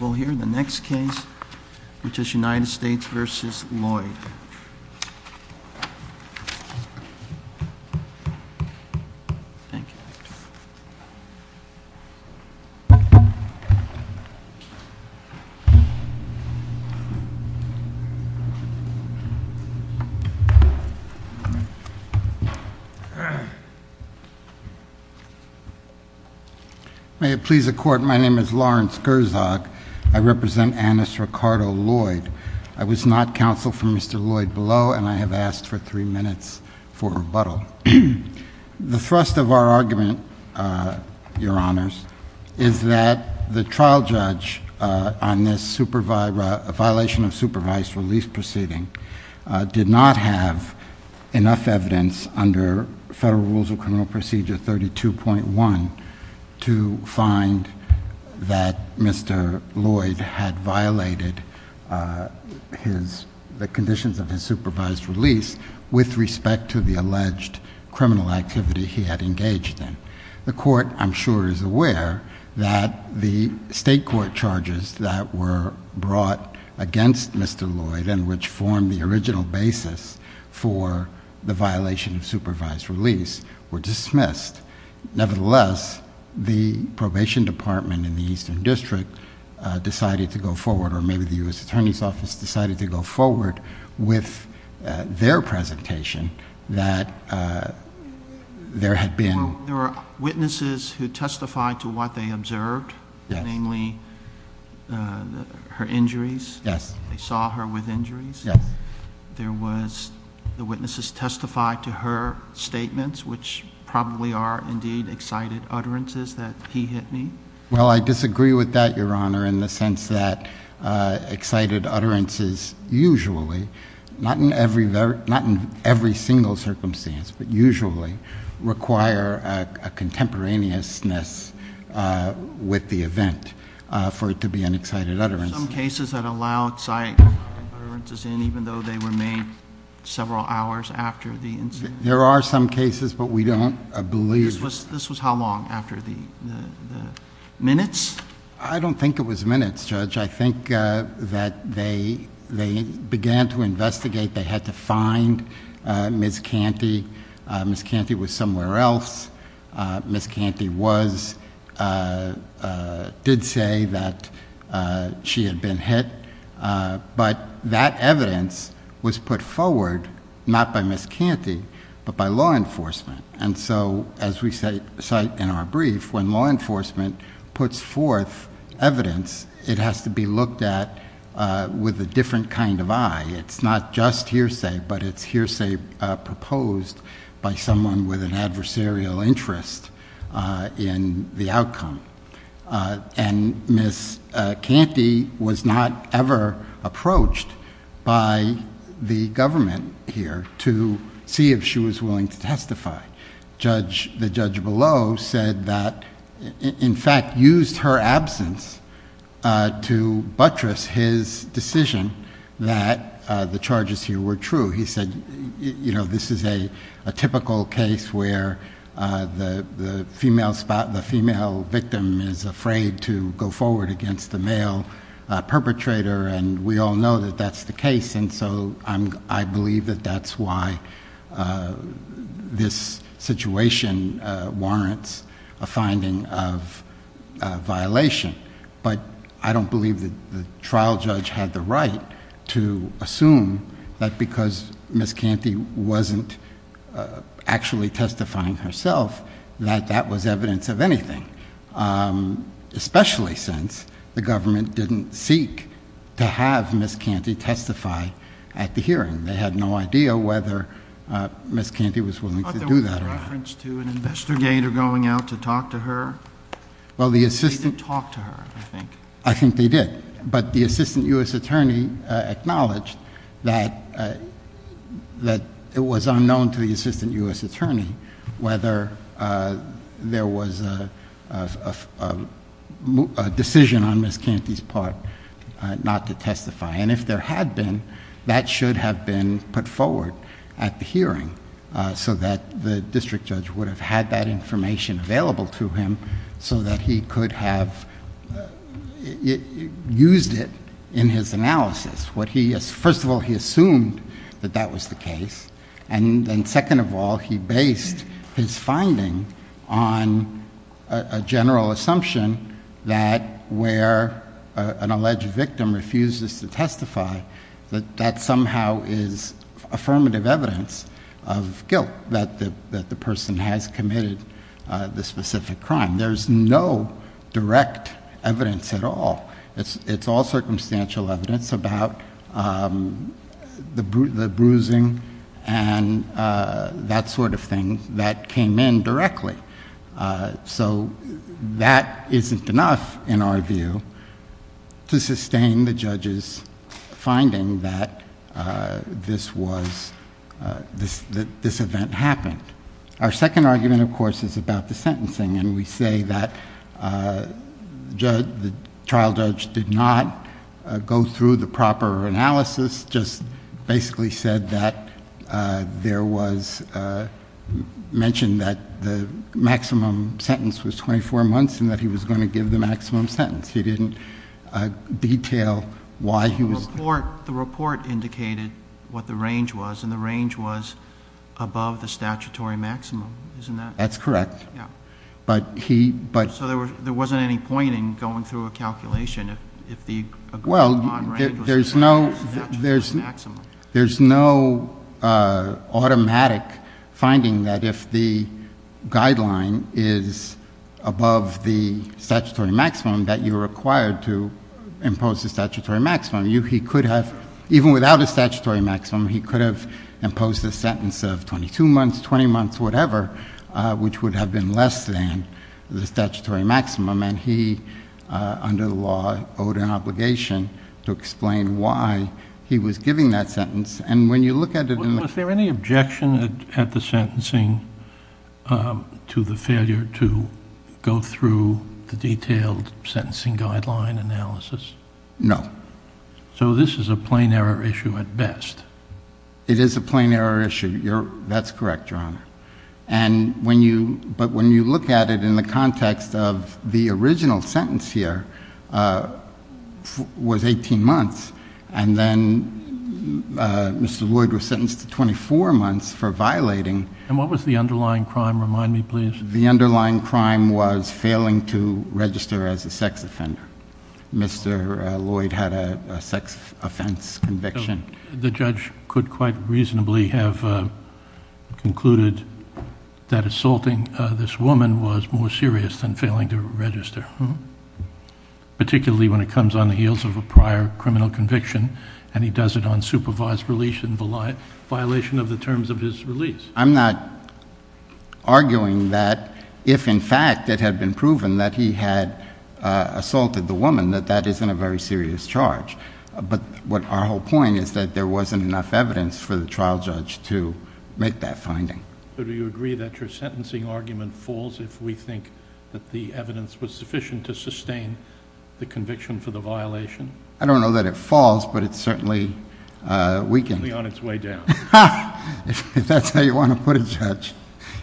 We'll hear the next case, which is United States v. Lloyd. May it please the Court, my name is Lawrence Gerzak, I represent Annis Ricardo Lloyd. I was not counsel for Mr. Lloyd below, and I have asked for three minutes for rebuttal. The thrust of our argument, Your Honors, is that the trial judge on this violation of supervised release proceeding did not have enough evidence under Federal Rules of Criminal Procedure 32.1 to find that Mr. Lloyd had violated the conditions of his supervised release with respect to the alleged criminal activity he had engaged in. The Court, I'm sure, is aware that the state court charges that were brought against Mr. for the violation of supervised release were dismissed. Nevertheless, the probation department in the Eastern District decided to go forward, or maybe the U.S. Attorney's Office decided to go forward, with their presentation that there had been... There were witnesses who testified to what they observed, namely her injuries? Yes. They saw her with injuries? Yes. There was... the witnesses testified to her statements, which probably are indeed excited utterances, that he hit me? Well, I disagree with that, Your Honor, in the sense that excited utterances usually — not in every single circumstance, but usually — require a contemporaneousness with the event for it to be an excited utterance. Are there some cases that allow excited utterances in, even though they were made several hours after the incident? There are some cases, but we don't believe... This was how long after the minutes? I don't think it was minutes, Judge. I think that they began to investigate. They had to find Ms. Canty. Ms. Canty was somewhere else. Ms. Canty did say that she had been hit, but that evidence was put forward, not by Ms. Canty, but by law enforcement, and so, as we cite in our brief, when law enforcement puts forth evidence, it has to be looked at with a different kind of eye. It's not just hearsay, but it's hearsay proposed by someone with an adversarial interest in the outcome. And Ms. Canty was not ever approached by the government here to see if she was willing to testify. The judge below said that, in fact, used her absence to buttress his decision that the charges here were true. He said, you know, this is a typical case where the female victim is afraid to go forward against the male perpetrator, and we all know that that's the case, and so, I believe that that's why this situation warrants a finding of violation, but I don't believe that the trial judge had the right to assume that because Ms. Canty wasn't actually testifying herself, that that was evidence of anything, especially since the government didn't seek to have Ms. Canty testify at the hearing. They had no idea whether Ms. Canty was willing to do that or not. I thought there was a reference to an investigator going out to talk to her. Well, the assistant... They didn't talk to her, I think. I think they did, but the assistant U.S. attorney acknowledged that it was unknown to the assistant U.S. attorney whether there was a decision on Ms. Canty's part not to testify, and if there had been, that should have been put forward at the hearing so that the district judge would have had that information available to him so that he could have used it in his analysis. First of all, he assumed that that was the case, and then second of all, he based his that somehow is affirmative evidence of guilt that the person has committed the specific crime. There's no direct evidence at all. It's all circumstantial evidence about the bruising and that sort of thing that came in directly. So, that isn't enough, in our view, to sustain the judge's finding that this event happened. Our second argument, of course, is about the sentencing, and we say that the trial judge did not go through the proper analysis, just basically said that there was... mentioned that the maximum sentence was twenty-four months and that he was going to give the maximum sentence. He didn't detail why he was... The report indicated what the range was, and the range was above the statutory maximum. Isn't that... That's correct. Yeah. But he... So, there wasn't any point in going through a calculation if the... Well, there's no automatic finding that if the guideline is above the statutory maximum that you're required to impose the statutory maximum. He could have, even without a statutory maximum, he could have imposed a sentence of twenty-two the statutory maximum, and he, under the law, owed an obligation to explain why he was giving that sentence. And when you look at it... Was there any objection at the sentencing to the failure to go through the detailed sentencing guideline analysis? No. So, this is a plain error issue at best. It is a plain error issue. That's correct, Your Honor. But when you look at it in the context of the original sentence here was eighteen months, and then Mr. Lloyd was sentenced to twenty-four months for violating... And what was the underlying crime? Remind me, please. The underlying crime was failing to register as a sex offender. Mr. Lloyd had a sex offense conviction. The judge could quite reasonably have concluded that assaulting this woman was more serious than failing to register, particularly when it comes on the heels of a prior criminal conviction, and he does it on supervised release in violation of the terms of his release. I'm not arguing that if, in fact, it had been proven that he had assaulted the woman, that that isn't a very serious charge. But our whole point is that there wasn't enough evidence for the trial judge to make that finding. So, do you agree that your sentencing argument falls if we think that the evidence was sufficient to sustain the conviction for the violation? I don't know that it falls, but it's certainly weakened. Certainly on its way down. If that's how you want to put it, Judge.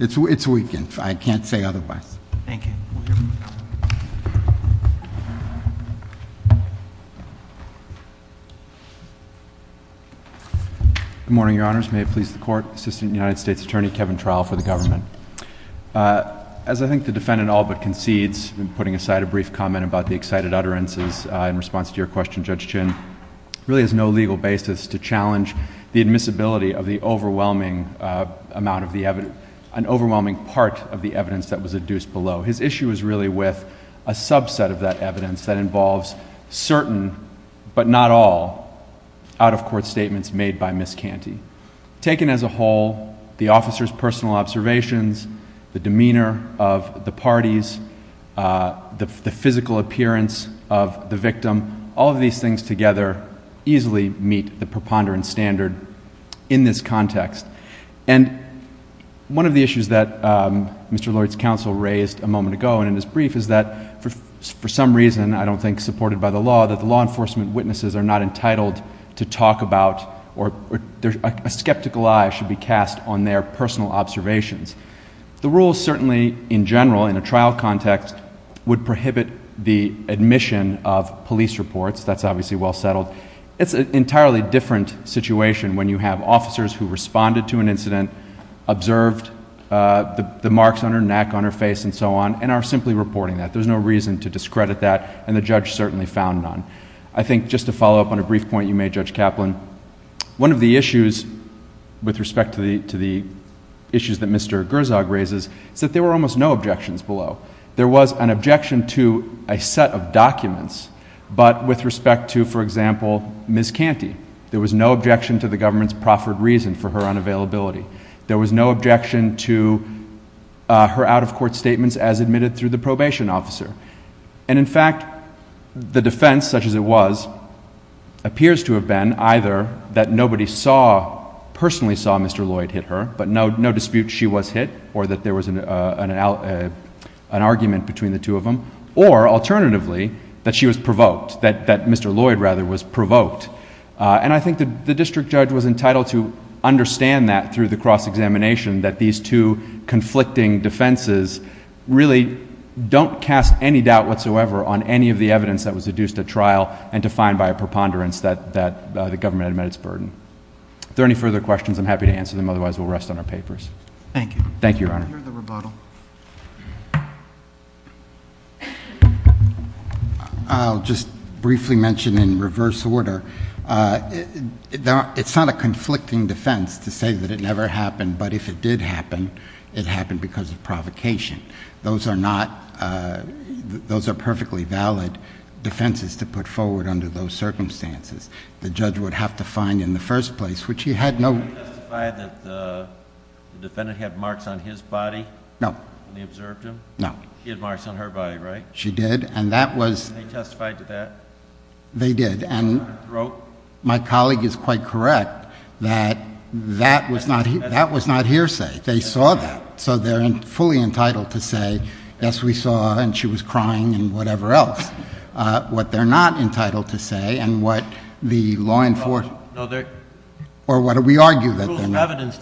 It's weakened. I can't say otherwise. Thank you. We'll hear from you. Good morning, Your Honors. May it please the Court. Assistant United States Attorney Kevin Trowell for the government. As I think the defendant all but concedes in putting aside a brief comment about the excited utterances in response to your question, Judge Chinn, really has no legal basis to challenge the admissibility of the overwhelming amount of the evidence, an overwhelming part of the evidence that was adduced below. His issue is really with a subset of that evidence that involves certain, but not all, out-of-court statements made by Ms. Canty. Taken as a whole, the officer's personal observations, the demeanor of the parties, the physical appearance of the victim, all of these things together easily meet the preponderance standard in this context. And one of the issues that Mr. Lloyd's counsel raised a moment ago and in his brief is that for some reason, I don't think supported by the law, that the law enforcement witnesses are not entitled to talk about or a skeptical eye should be cast on their personal observations. The rules certainly, in general, in a trial context, would prohibit the admission of police reports. That's obviously well settled. It's an entirely different situation when you have officers who responded to an incident, observed the marks on her neck, on her face, and so on, and are simply reporting that. There's no reason to discredit that, and the judge certainly found none. I think just to follow up on a brief point you made, Judge Kaplan, one of the issues with respect to the issues that Mr. Gerzog raises is that there were almost no objections below. There was an objection to a set of documents, but with respect to, for example, Ms. Canty, there was no objection to the government's proffered reason for her unavailability. There was no objection to her out-of-court statements as admitted through the probation officer. And in fact, the defense, such as it was, appears to have been either that nobody personally saw Mr. Lloyd hit her, but no dispute she was hit, or that there was an argument between the two of them, or alternatively, that she was provoked, that Mr. Lloyd rather was provoked. And I think the district judge was entitled to understand that through the cross-examination, that these two conflicting defenses really don't cast any doubt whatsoever on any of the evidence that was deduced at trial and defined by a preponderance that the government had met its burden. If there are any further questions, I'm happy to answer them, otherwise we'll rest on our papers. Thank you. Thank you, Your Honor. I hear the rebuttal. I'll just briefly mention in reverse order, it's not a conflicting defense to say that it never happened, but if it did happen, it happened because of provocation. Those are not... those are perfectly valid defenses to put forward under those circumstances. The judge would have to find in the first place, which he had no... Can you testify that the defendant had marks on his body when they observed him? No. He had marks on her body, right? She did. And that was... Can you testify to that? They did. On her throat? My colleague is quite correct that that was not hearsay. They saw that. So they're fully entitled to say, yes, we saw and she was crying and whatever else. What they're not entitled to say and what the law enforcement... Or what we argue that they were... Rules of evidence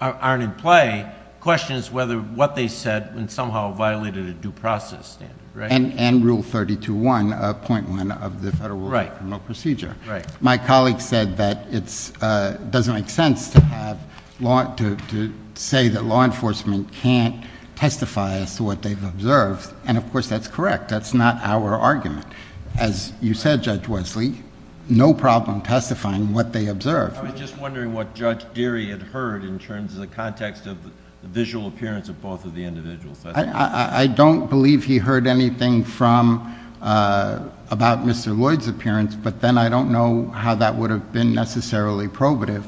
aren't in play. Question is whether what they said somehow violated a due process standard, right? And Rule 32.1.1 of the Federal Criminal Procedure. My colleague said that it doesn't make sense to say that law enforcement can't testify as to what they've observed, and of course that's correct. That's not our argument. As you said, Judge Wesley, no problem testifying what they observed. I was just wondering what Judge Deary had heard in terms of the context of the visual appearance of both of the individuals. I don't believe he heard anything from... about Mr. Lloyd's appearance, but then I don't know how that would have been necessarily probative.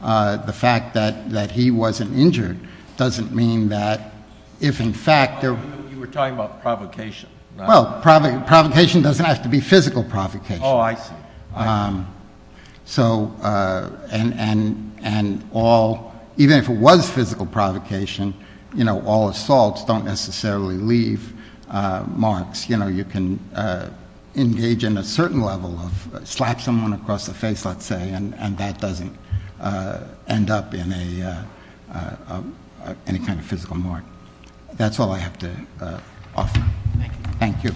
The fact that he wasn't injured doesn't mean that if in fact... You were talking about provocation. Well, provocation doesn't have to be physical provocation. Oh, I see. So... and all... even if it was physical provocation, you know, all assaults don't necessarily leave marks. You know, you can engage in a certain level of... slap someone across the face, let's say, and that doesn't end up in a... any kind of physical mark. That's all I have to offer. Thank you.